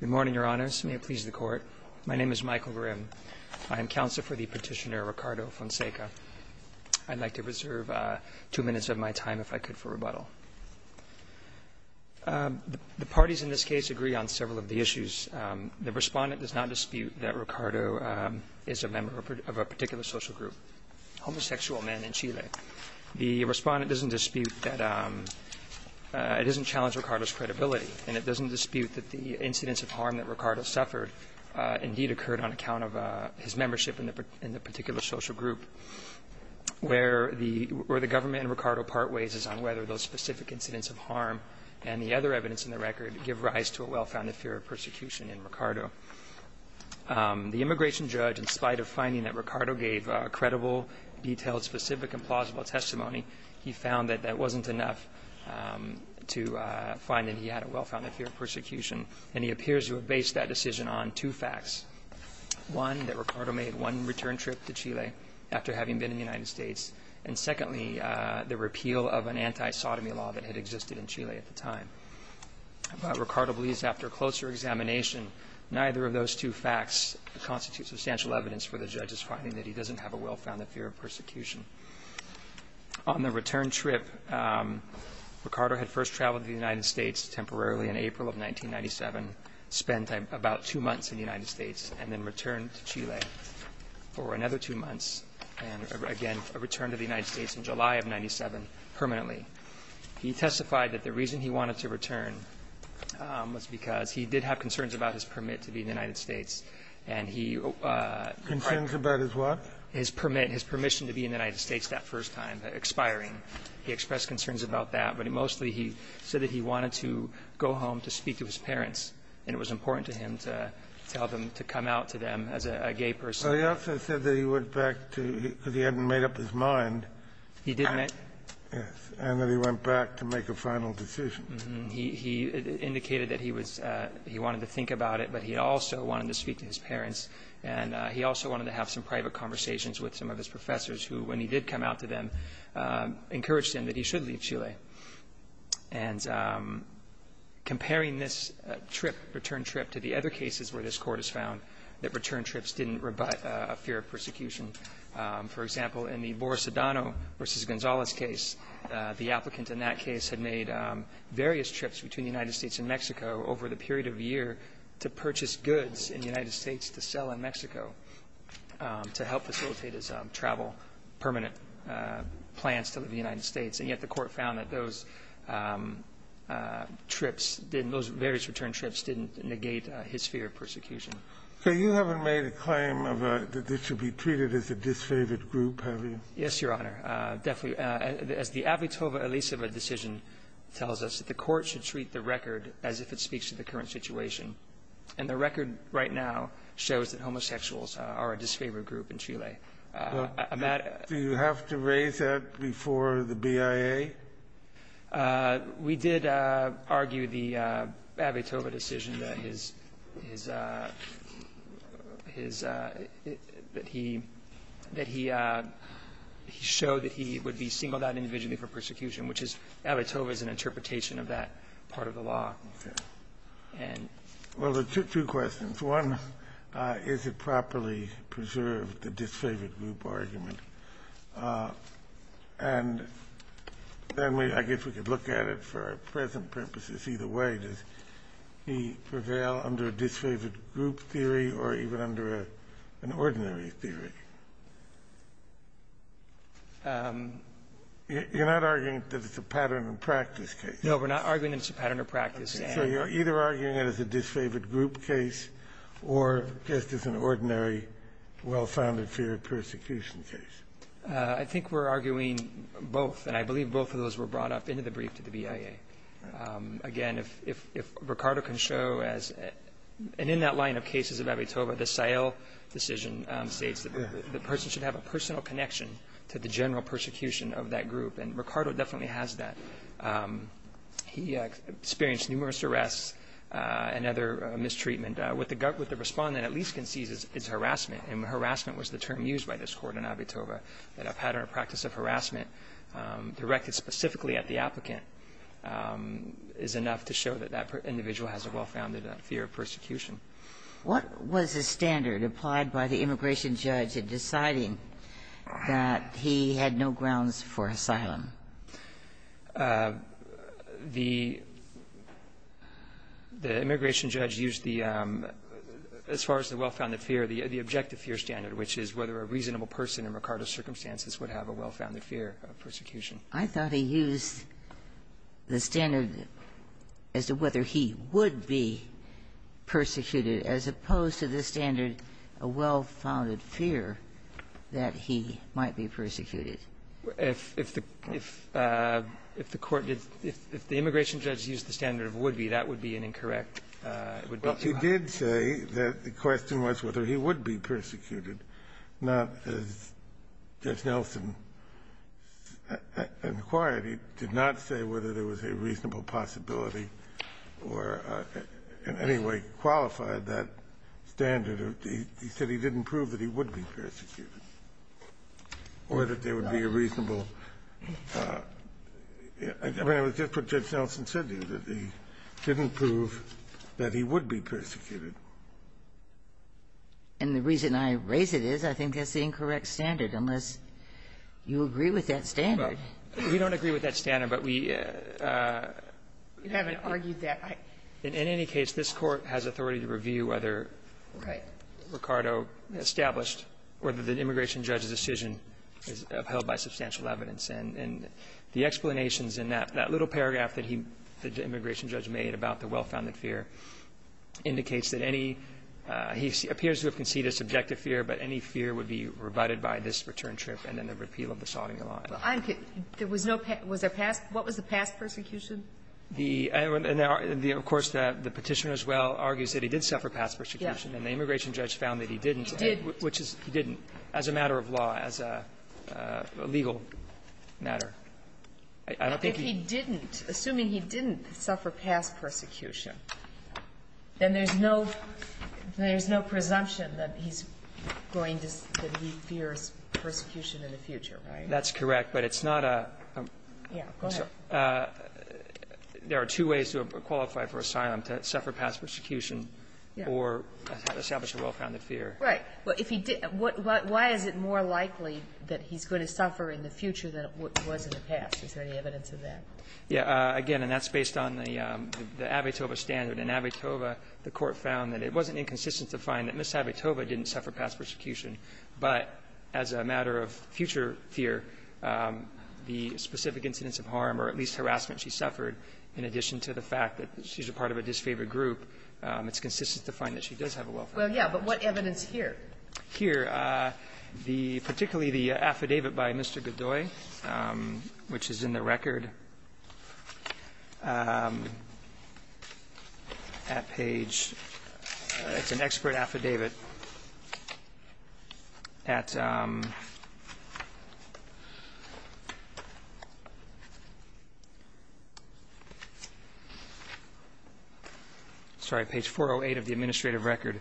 Good morning, Your Honors. May it please the Court. My name is Michael Grimm. I am counsel for the petitioner Ricardo Fonseca. I'd like to reserve two minutes of my time, if I could, for rebuttal. The parties in this case agree on several of the issues. The respondent does not dispute that Ricardo is a member of a particular social group, homosexual men in Chile. The respondent doesn't dispute that it doesn't challenge Ricardo's credibility, and it doesn't dispute that the incidents of harm that Ricardo suffered indeed occurred on account of his membership in the particular social group, where the government in Ricardo part ways is on whether those specific incidents of harm and the other evidence in the record give rise to a well-founded fear of persecution in Ricardo. The immigration judge, in spite of finding that Ricardo gave credible, detailed, specific, and plausible testimony, he found that that wasn't enough to find that he had a well-founded fear of persecution, and he appears to have based that decision on two facts, one, that Ricardo made one return trip to Chile after having been in the United States, and secondly, the repeal of an anti-sodomy law that had existed in Chile at the time. Ricardo believes after closer examination, neither of those two facts constitute substantial evidence for the judge's finding that he doesn't have a well-founded fear of persecution. On the return trip, Ricardo had first traveled to the United States temporarily in April of 1997, spent about two months in the United States, and then returned to Chile for another two months, and again, returned to the United States in July of 1997 permanently. He testified that the reason he wanted to return was because he did have concerns about his permit to be in the United States, and he required his permit, his permission to be in the United States that first time expiring. He expressed concerns about that, but mostly he said that he wanted to go home to speak to his parents, and it was important to him to tell them, to come out to them as a gay person. He also said that he went back because he hadn't made up his mind. He didn't. Yes. And that he went back to make a final decision. He indicated that he was he wanted to think about it, but he also wanted to speak to his parents. And he also wanted to have some private conversations with some of his professors who, when he did come out to them, encouraged him that he should leave Chile. And comparing this trip, return trip, to the other cases where this Court has found that return trips didn't rebut a fear of persecution. For example, in the Boris Adano v. Gonzalez case, the applicant in that case had made various trips between the United States and Mexico over the period of a year to purchase goods in the United States to sell in Mexico to help facilitate his travel, permanent plans to the United States. And yet the Court found that those trips, those various return trips didn't negate his fear of persecution. So you haven't made a claim that this should be treated as a disfavored group, have you? Yes, Your Honor. Definitely. As the Avitova-Eliseva decision tells us, the Court should treat the record as if it speaks to the current situation. And the record right now shows that homosexuals are a disfavored group in Chile. Do you have to raise that before the BIA? We did argue the Avitova decision that his – that he showed that he would be singled out individually for persecution, which is Avitova's interpretation of that part of the law. Okay. Well, two questions. One, is it properly preserved, the disfavored group argument? And then we – I guess we could look at it for our present purposes either way. Does he prevail under a disfavored group theory or even under an ordinary theory? You're not arguing that it's a pattern and practice case. No, we're not arguing that it's a pattern of practice. So you're either arguing it as a disfavored group case or just as an ordinary well-founded fear of persecution case? I think we're arguing both, and I believe both of those were brought up into the brief to the BIA. Again, if Ricardo can show as – and in that line of cases of Avitova, the Seyel decision states that the person should have a personal connection to the general persecution of that group, and Ricardo definitely has that. He experienced numerous arrests and other mistreatment. What the respondent at least can see is harassment, and harassment was the term used by this Court in Avitova, that a pattern of practice of harassment directed specifically at the applicant is enough to show that that individual has a well-founded fear of persecution. What was the standard applied by the immigration judge in deciding that he had no grounds for asylum? The immigration judge used the – as far as the well-founded fear, the objective fear standard, which is whether a reasonable person in Ricardo's circumstances would have a well-founded fear of persecution. I thought he used the standard as to whether he would be persecuted, as opposed to the standard, a well-founded fear that he might be persecuted. If the Court did – if the immigration judge used the standard of would be, that would be an incorrect – it would be too high. Well, he did say that the question was whether he would be persecuted, not as Judge Nelson inquired. He did not say whether there was a reasonable possibility or in any way qualified that standard. He said he didn't prove that he would be persecuted or that there would be a reasonable – I mean, it was just what Judge Nelson said to you, that he didn't prove that he would be persecuted. And the reason I raise it is I think that's the incorrect standard, unless you agree with that standard. We don't agree with that standard, but we – You haven't argued that. In any case, this Court has authority to review whether – Right. Ricardo established whether the immigration judge's decision is upheld by substantial evidence. And the explanations in that – that little paragraph that he – that the immigration judge made about the well-founded fear indicates that any – he appears to have conceded a subjective fear, but any fear would be rebutted by this return trip and then the repeal of the salting law. Well, I'm – there was no – was there past – what was the past persecution? The – and there are – of course, the Petitioner as well argues that he did suffer past persecution, and the immigration judge found that he didn't. He did. Which is – he didn't, as a matter of law, as a legal matter. I don't think he – If he didn't, assuming he didn't suffer past persecution, then there's no – there's no presumption that he's going to – that he fears persecution in the future, right? That's correct, but it's not a – I'm sorry. There are two ways to qualify for asylum, to suffer past persecution or establish a well-founded fear. Right. Well, if he – why is it more likely that he's going to suffer in the future than it was in the past? Is there any evidence of that? Yeah. Again, and that's based on the Abitoba standard. In Abitoba, the Court found that it wasn't inconsistent to find that Ms. Abitoba didn't suffer past persecution, but as a matter of future fear, the specific incidents of harm or at least harassment she suffered, in addition to the fact that she's a part of a disfavored group, it's consistent to find that she does have a well-founded fear. Well, yeah, but what evidence here? Here, the – particularly the affidavit by Mr. Godoy, which is in the record at page – it's an expert affidavit at – sorry, page 408 of the administrative record.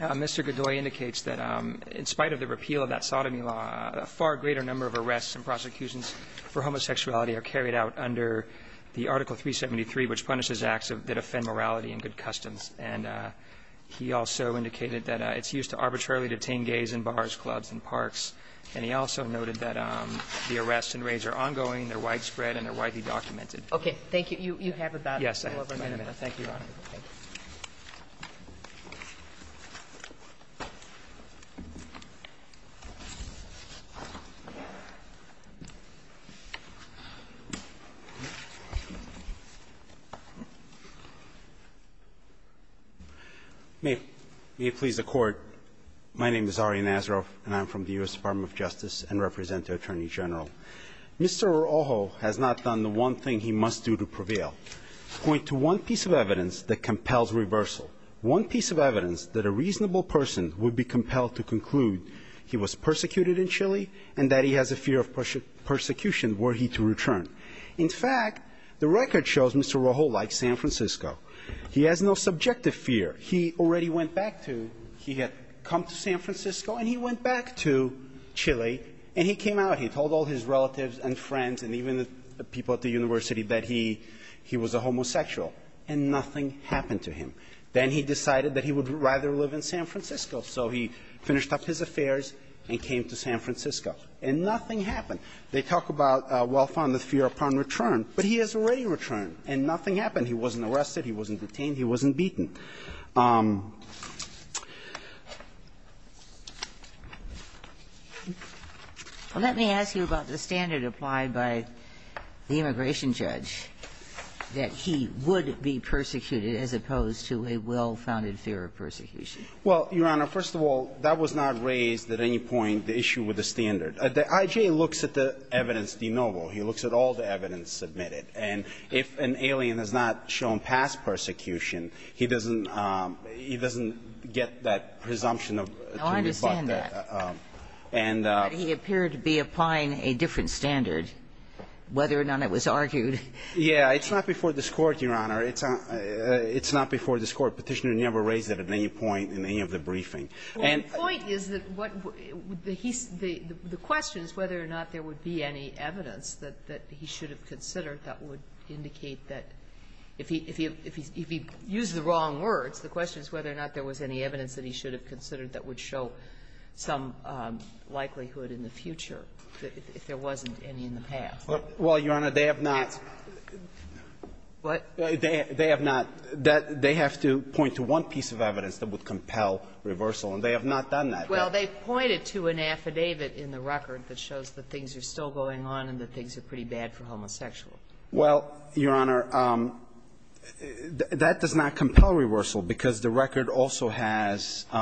Mr. Godoy indicates that in spite of the repeal of that sodomy law, a far greater number of arrests and prosecutions for homosexuality are carried out under the Article 373, which punishes acts that offend morality and good customs. And he also indicated that it's used to arbitrarily detain gays in bars, clubs and parks. And he also noted that the arrests and raids are ongoing, they're widespread and they're widely documented. Okay. Thank you. You have about however many minutes. Yes, I have about a minute. Thank you, Your Honor. May it please the Court. My name is Ari Nazaroff and I'm from the U.S. Department of Justice and represent the Attorney General. Mr. Orojo has not done the one thing he must do to prevail. Point to one piece of evidence that compels reversal. One piece of evidence that a reasonable person would be compelled to conclude he was persecuted in Chile and that he has a fear of persecution were he to return. In fact, the record shows Mr. Orojo likes San Francisco. He has no subjective fear. He already went back to – he had come to San Francisco and he went back to Chile and he came out, he told all his relatives and friends and even the people at the He was a homosexual. And nothing happened to him. Then he decided that he would rather live in San Francisco. So he finished up his affairs and came to San Francisco. And nothing happened. They talk about a well-founded fear upon return, but he has already returned and nothing happened. He wasn't arrested, he wasn't detained, he wasn't beaten. Let me ask you about the standard applied by the immigration judge, that he would be persecuted as opposed to a well-founded fear of persecution. Well, Your Honor, first of all, that was not raised at any point, the issue with the standard. The I.J. looks at the evidence de novo. He looks at all the evidence submitted. And if an alien is not shown past persecution, he doesn't – he doesn't get that presumption to rebut that. No, I understand that. But he appeared to be applying a different standard, whether or not it was argued. Yeah. It's not before this Court, Your Honor. It's not before this Court. Petitioner never raised it at any point in any of the briefing. Well, the point is that what – the question is whether or not there would be any evidence that would indicate that if he – if he used the wrong words, the question is whether or not there was any evidence that he should have considered that would show some likelihood in the future, if there wasn't any in the past. Well, Your Honor, they have not. What? They have not. They have to point to one piece of evidence that would compel reversal, and they have not done that. Well, they pointed to an affidavit in the record that shows that things are still Well, Your Honor, that does not compel reversal because the record also has –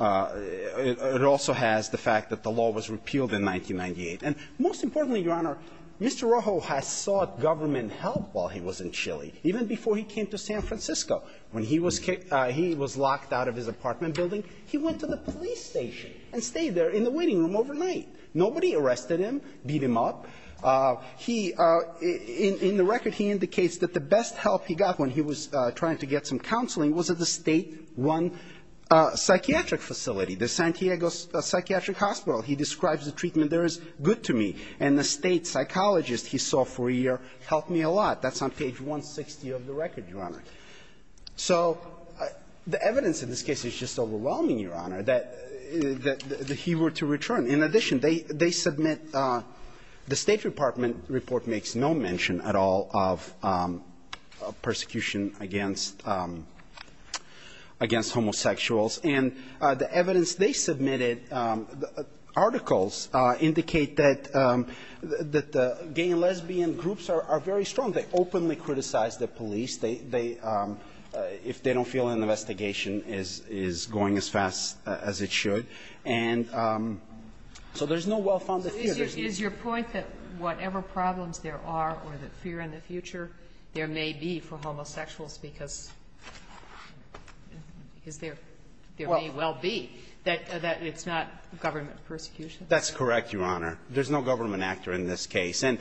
it also has the fact that the law was repealed in 1998. And most importantly, Your Honor, Mr. Rojo has sought government help while he was in Chile, even before he came to San Francisco. When he was – he was locked out of his apartment building, he went to the police station and stayed there in the waiting room overnight. Nobody arrested him, beat him up. He – in the record, he indicates that the best help he got when he was trying to get some counseling was at the State 1 psychiatric facility, the San Diego Psychiatric Hospital. He describes the treatment there as good to me, and the State psychologist he saw for a year helped me a lot. That's on page 160 of the record, Your Honor. So the evidence in this case is just overwhelming, Your Honor, that he were to return. In addition, they – they submit – the State Department report makes no mention at all of persecution against – against homosexuals. And the evidence they submitted, articles, indicate that the gay and lesbian groups are very strong. They openly criticize the police. They – if they don't feel an investigation is going as fast as it should. And so there's no well-founded fear. There's no – Is your point that whatever problems there are or the fear in the future, there may be for homosexuals because – because there – there may well be that – that it's not government persecution? That's correct, Your Honor. There's no government actor in this case. And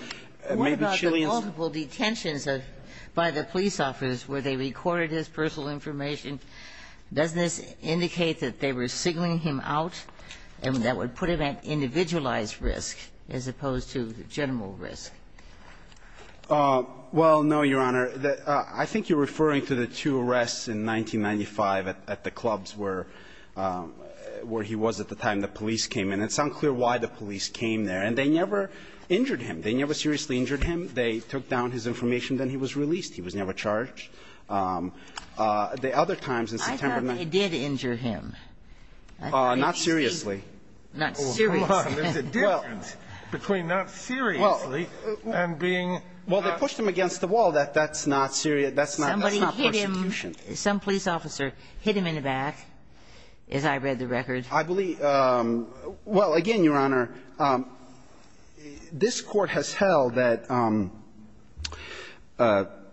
maybe Chileans – What about the multiple detentions of – by the police officers where they recorded his personal information? Does this indicate that they were signaling him out and that would put him at individualized risk as opposed to general risk? Well, no, Your Honor. I think you're referring to the two arrests in 1995 at the clubs where – where he was at the time the police came in. It's unclear why the police came there. And they never injured him. They never seriously injured him. They took down his information, then he was released. He was never charged. The other times in September – I thought they did injure him. Not seriously. Not seriously. There's a difference between not seriously and being – Well, they pushed him against the wall. That's not – that's not persecution. Somebody hit him. Some police officer hit him in the back, as I read the record. I believe – well, again, Your Honor, this Court has held that,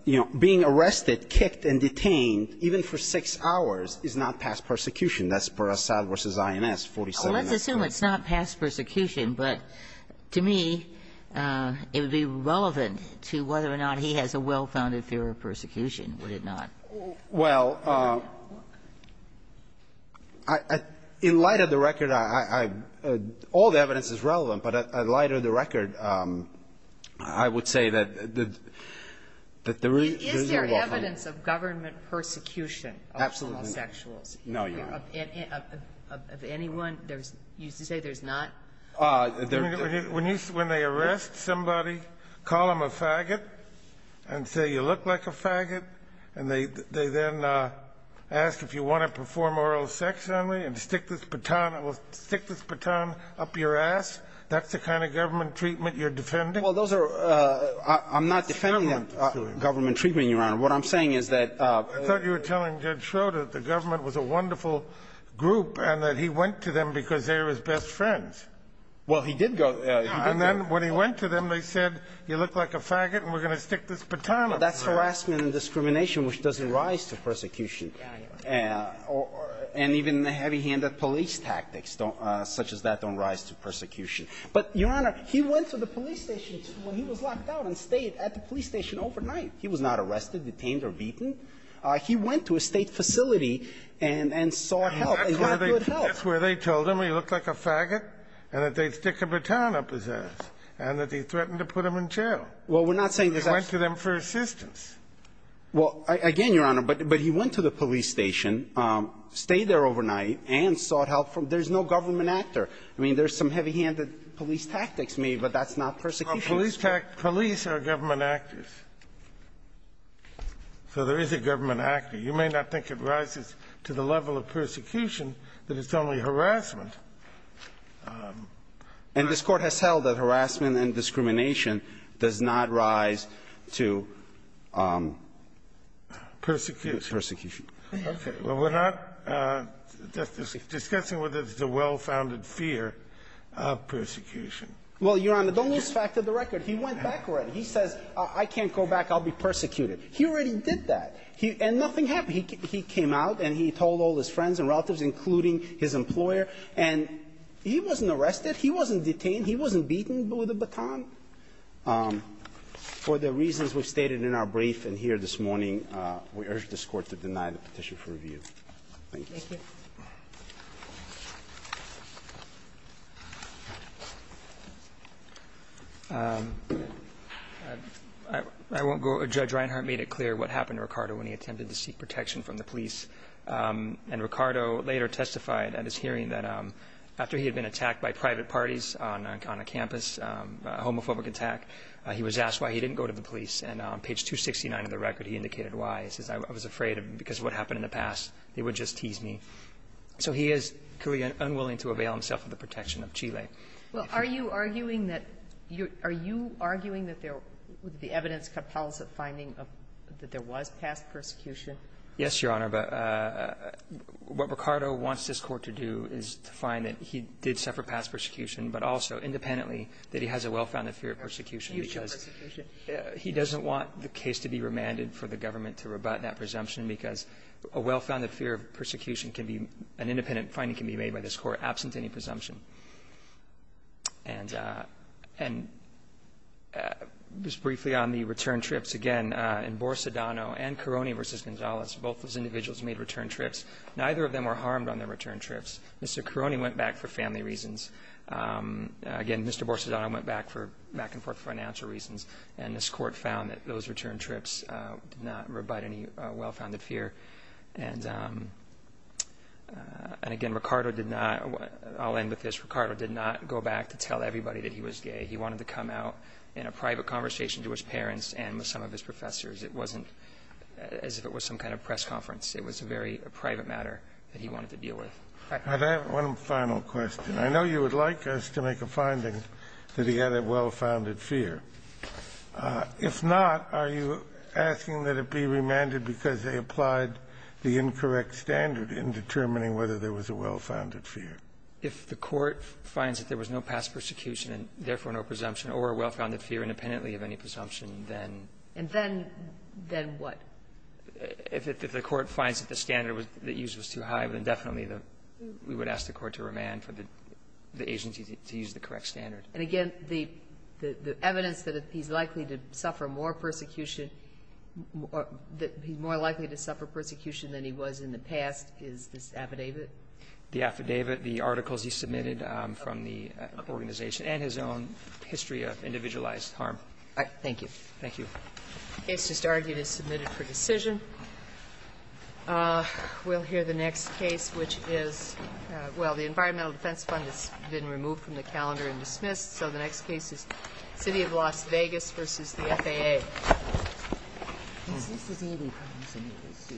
you know, being arrested, kicked, and detained, even for six hours, is not past persecution. That's per Assad v. INS, 47. Well, let's assume it's not past persecution. But to me, it would be relevant to whether or not he has a well-founded fear of persecution, would it not? Well, in light of the record, I – all the evidence is relevant. But in light of the record, I would say that the – that the real – Is there evidence of government persecution of homosexuals? Absolutely not. No, Your Honor. Of anyone? There's – you say there's not? When you – when they arrest somebody, call them a faggot and say, you look like a faggot, and they then ask if you want to perform oral sex on me and stick this baton – stick this baton up your ass, that's the kind of government treatment you're defending? Well, those are – I'm not defending government treatment, Your Honor. What I'm saying is that – I thought you were telling Judge Schroeder that the government was a wonderful group and that he went to them because they were his best friends. Well, he did go – he did go. And then when he went to them, they said, you look like a faggot, and we're going to stick this baton up your ass. Well, that's harassment and discrimination, which doesn't rise to persecution. And even the heavy-handed police tactics don't – such as that don't rise to persecution. But, Your Honor, he went to the police station when he was locked out and stayed at the police station overnight. He was not arrested, detained, or beaten. He went to a State facility and sought help and got good help. That's where they – that's where they told him he looked like a faggot and that they'd stick a baton up his ass, and that he threatened to put him in jail. Well, we're not saying that's – He went to them for assistance. Well, again, Your Honor, but he went to the police station, stayed there overnight, and sought help from – there's no government actor. I mean, there's some heavy-handed police tactics made, but that's not persecution. Well, police are government actors. So there is a government actor. You may not think it rises to the level of persecution, that it's only harassment. And this Court has held that harassment and discrimination does not rise to persecution. Okay. Well, we're not discussing whether there's a well-founded fear of persecution. Well, Your Honor, don't lose track of the record. He went back already. He says, I can't go back, I'll be persecuted. He already did that. And nothing happened. He came out and he told all his friends and relatives, including his employer, and he wasn't arrested, he wasn't detained, he wasn't beaten with a baton. For the reasons we've stated in our brief in here this morning, we urge this Court to deny the petition for review. Thank you. Thank you. I won't go – Judge Reinhart made it clear what happened to Ricardo when he attempted to seek protection from the police. And Ricardo later testified at his hearing that after he had been attacked by private parties on a campus, a homophobic attack, he was asked why he didn't go to the police. And on page 269 of the record, he indicated why. He says, I was afraid because of what happened in the past, they would just tease me. So he is clearly unwilling to avail himself of the protection of Chile. Well, are you arguing that you're – are you arguing that there – that the evidence compels a finding that there was past persecution? Yes, Your Honor. But what Ricardo wants this Court to do is to find that he did suffer past persecution, but also independently that he has a well-founded fear of persecution because he doesn't want the case to be remanded for the government to rebut that presumption because a well-founded fear of persecution can be – an independent finding can be made by this Court absent any presumption. And just briefly on the return trips, again, in Borsodano and Caroni v. Gonzalez, both those individuals made return trips. Neither of them were harmed on their return trips. Mr. Caroni went back for family reasons. Again, Mr. Borsodano went back for back-and-forth financial reasons. And this Court found that those return trips did not rebut any well-founded fear. And, again, Ricardo did not – I'll end with this. Ricardo did not go back to tell everybody that he was gay. He wanted to come out in a private conversation to his parents and with some of his professors. It wasn't as if it was some kind of press conference. It was a very private matter that he wanted to deal with. All right. I have one final question. I know you would like us to make a finding that he had a well-founded fear. If not, are you asking that it be remanded because they applied the incorrect standard in determining whether there was a well-founded fear? If the Court finds that there was no past persecution and, therefore, no presumption or a well-founded fear independently of any presumption, then? And then what? If the Court finds that the standard that used was too high, then definitely we would ask the Court to remand for the agency to use the correct standard. And, again, the evidence that he's likely to suffer more persecution or that he's more likely to suffer persecution than he was in the past is this affidavit? The affidavit, the articles he submitted from the organization and his own history of individualized harm. All right. Thank you. Thank you. The case just argued is submitted for decision. We'll hear the next case, which is, well, the Environmental Defense Fund has been removed from the calendar and dismissed. So the next case is City of Las Vegas v. the FAA.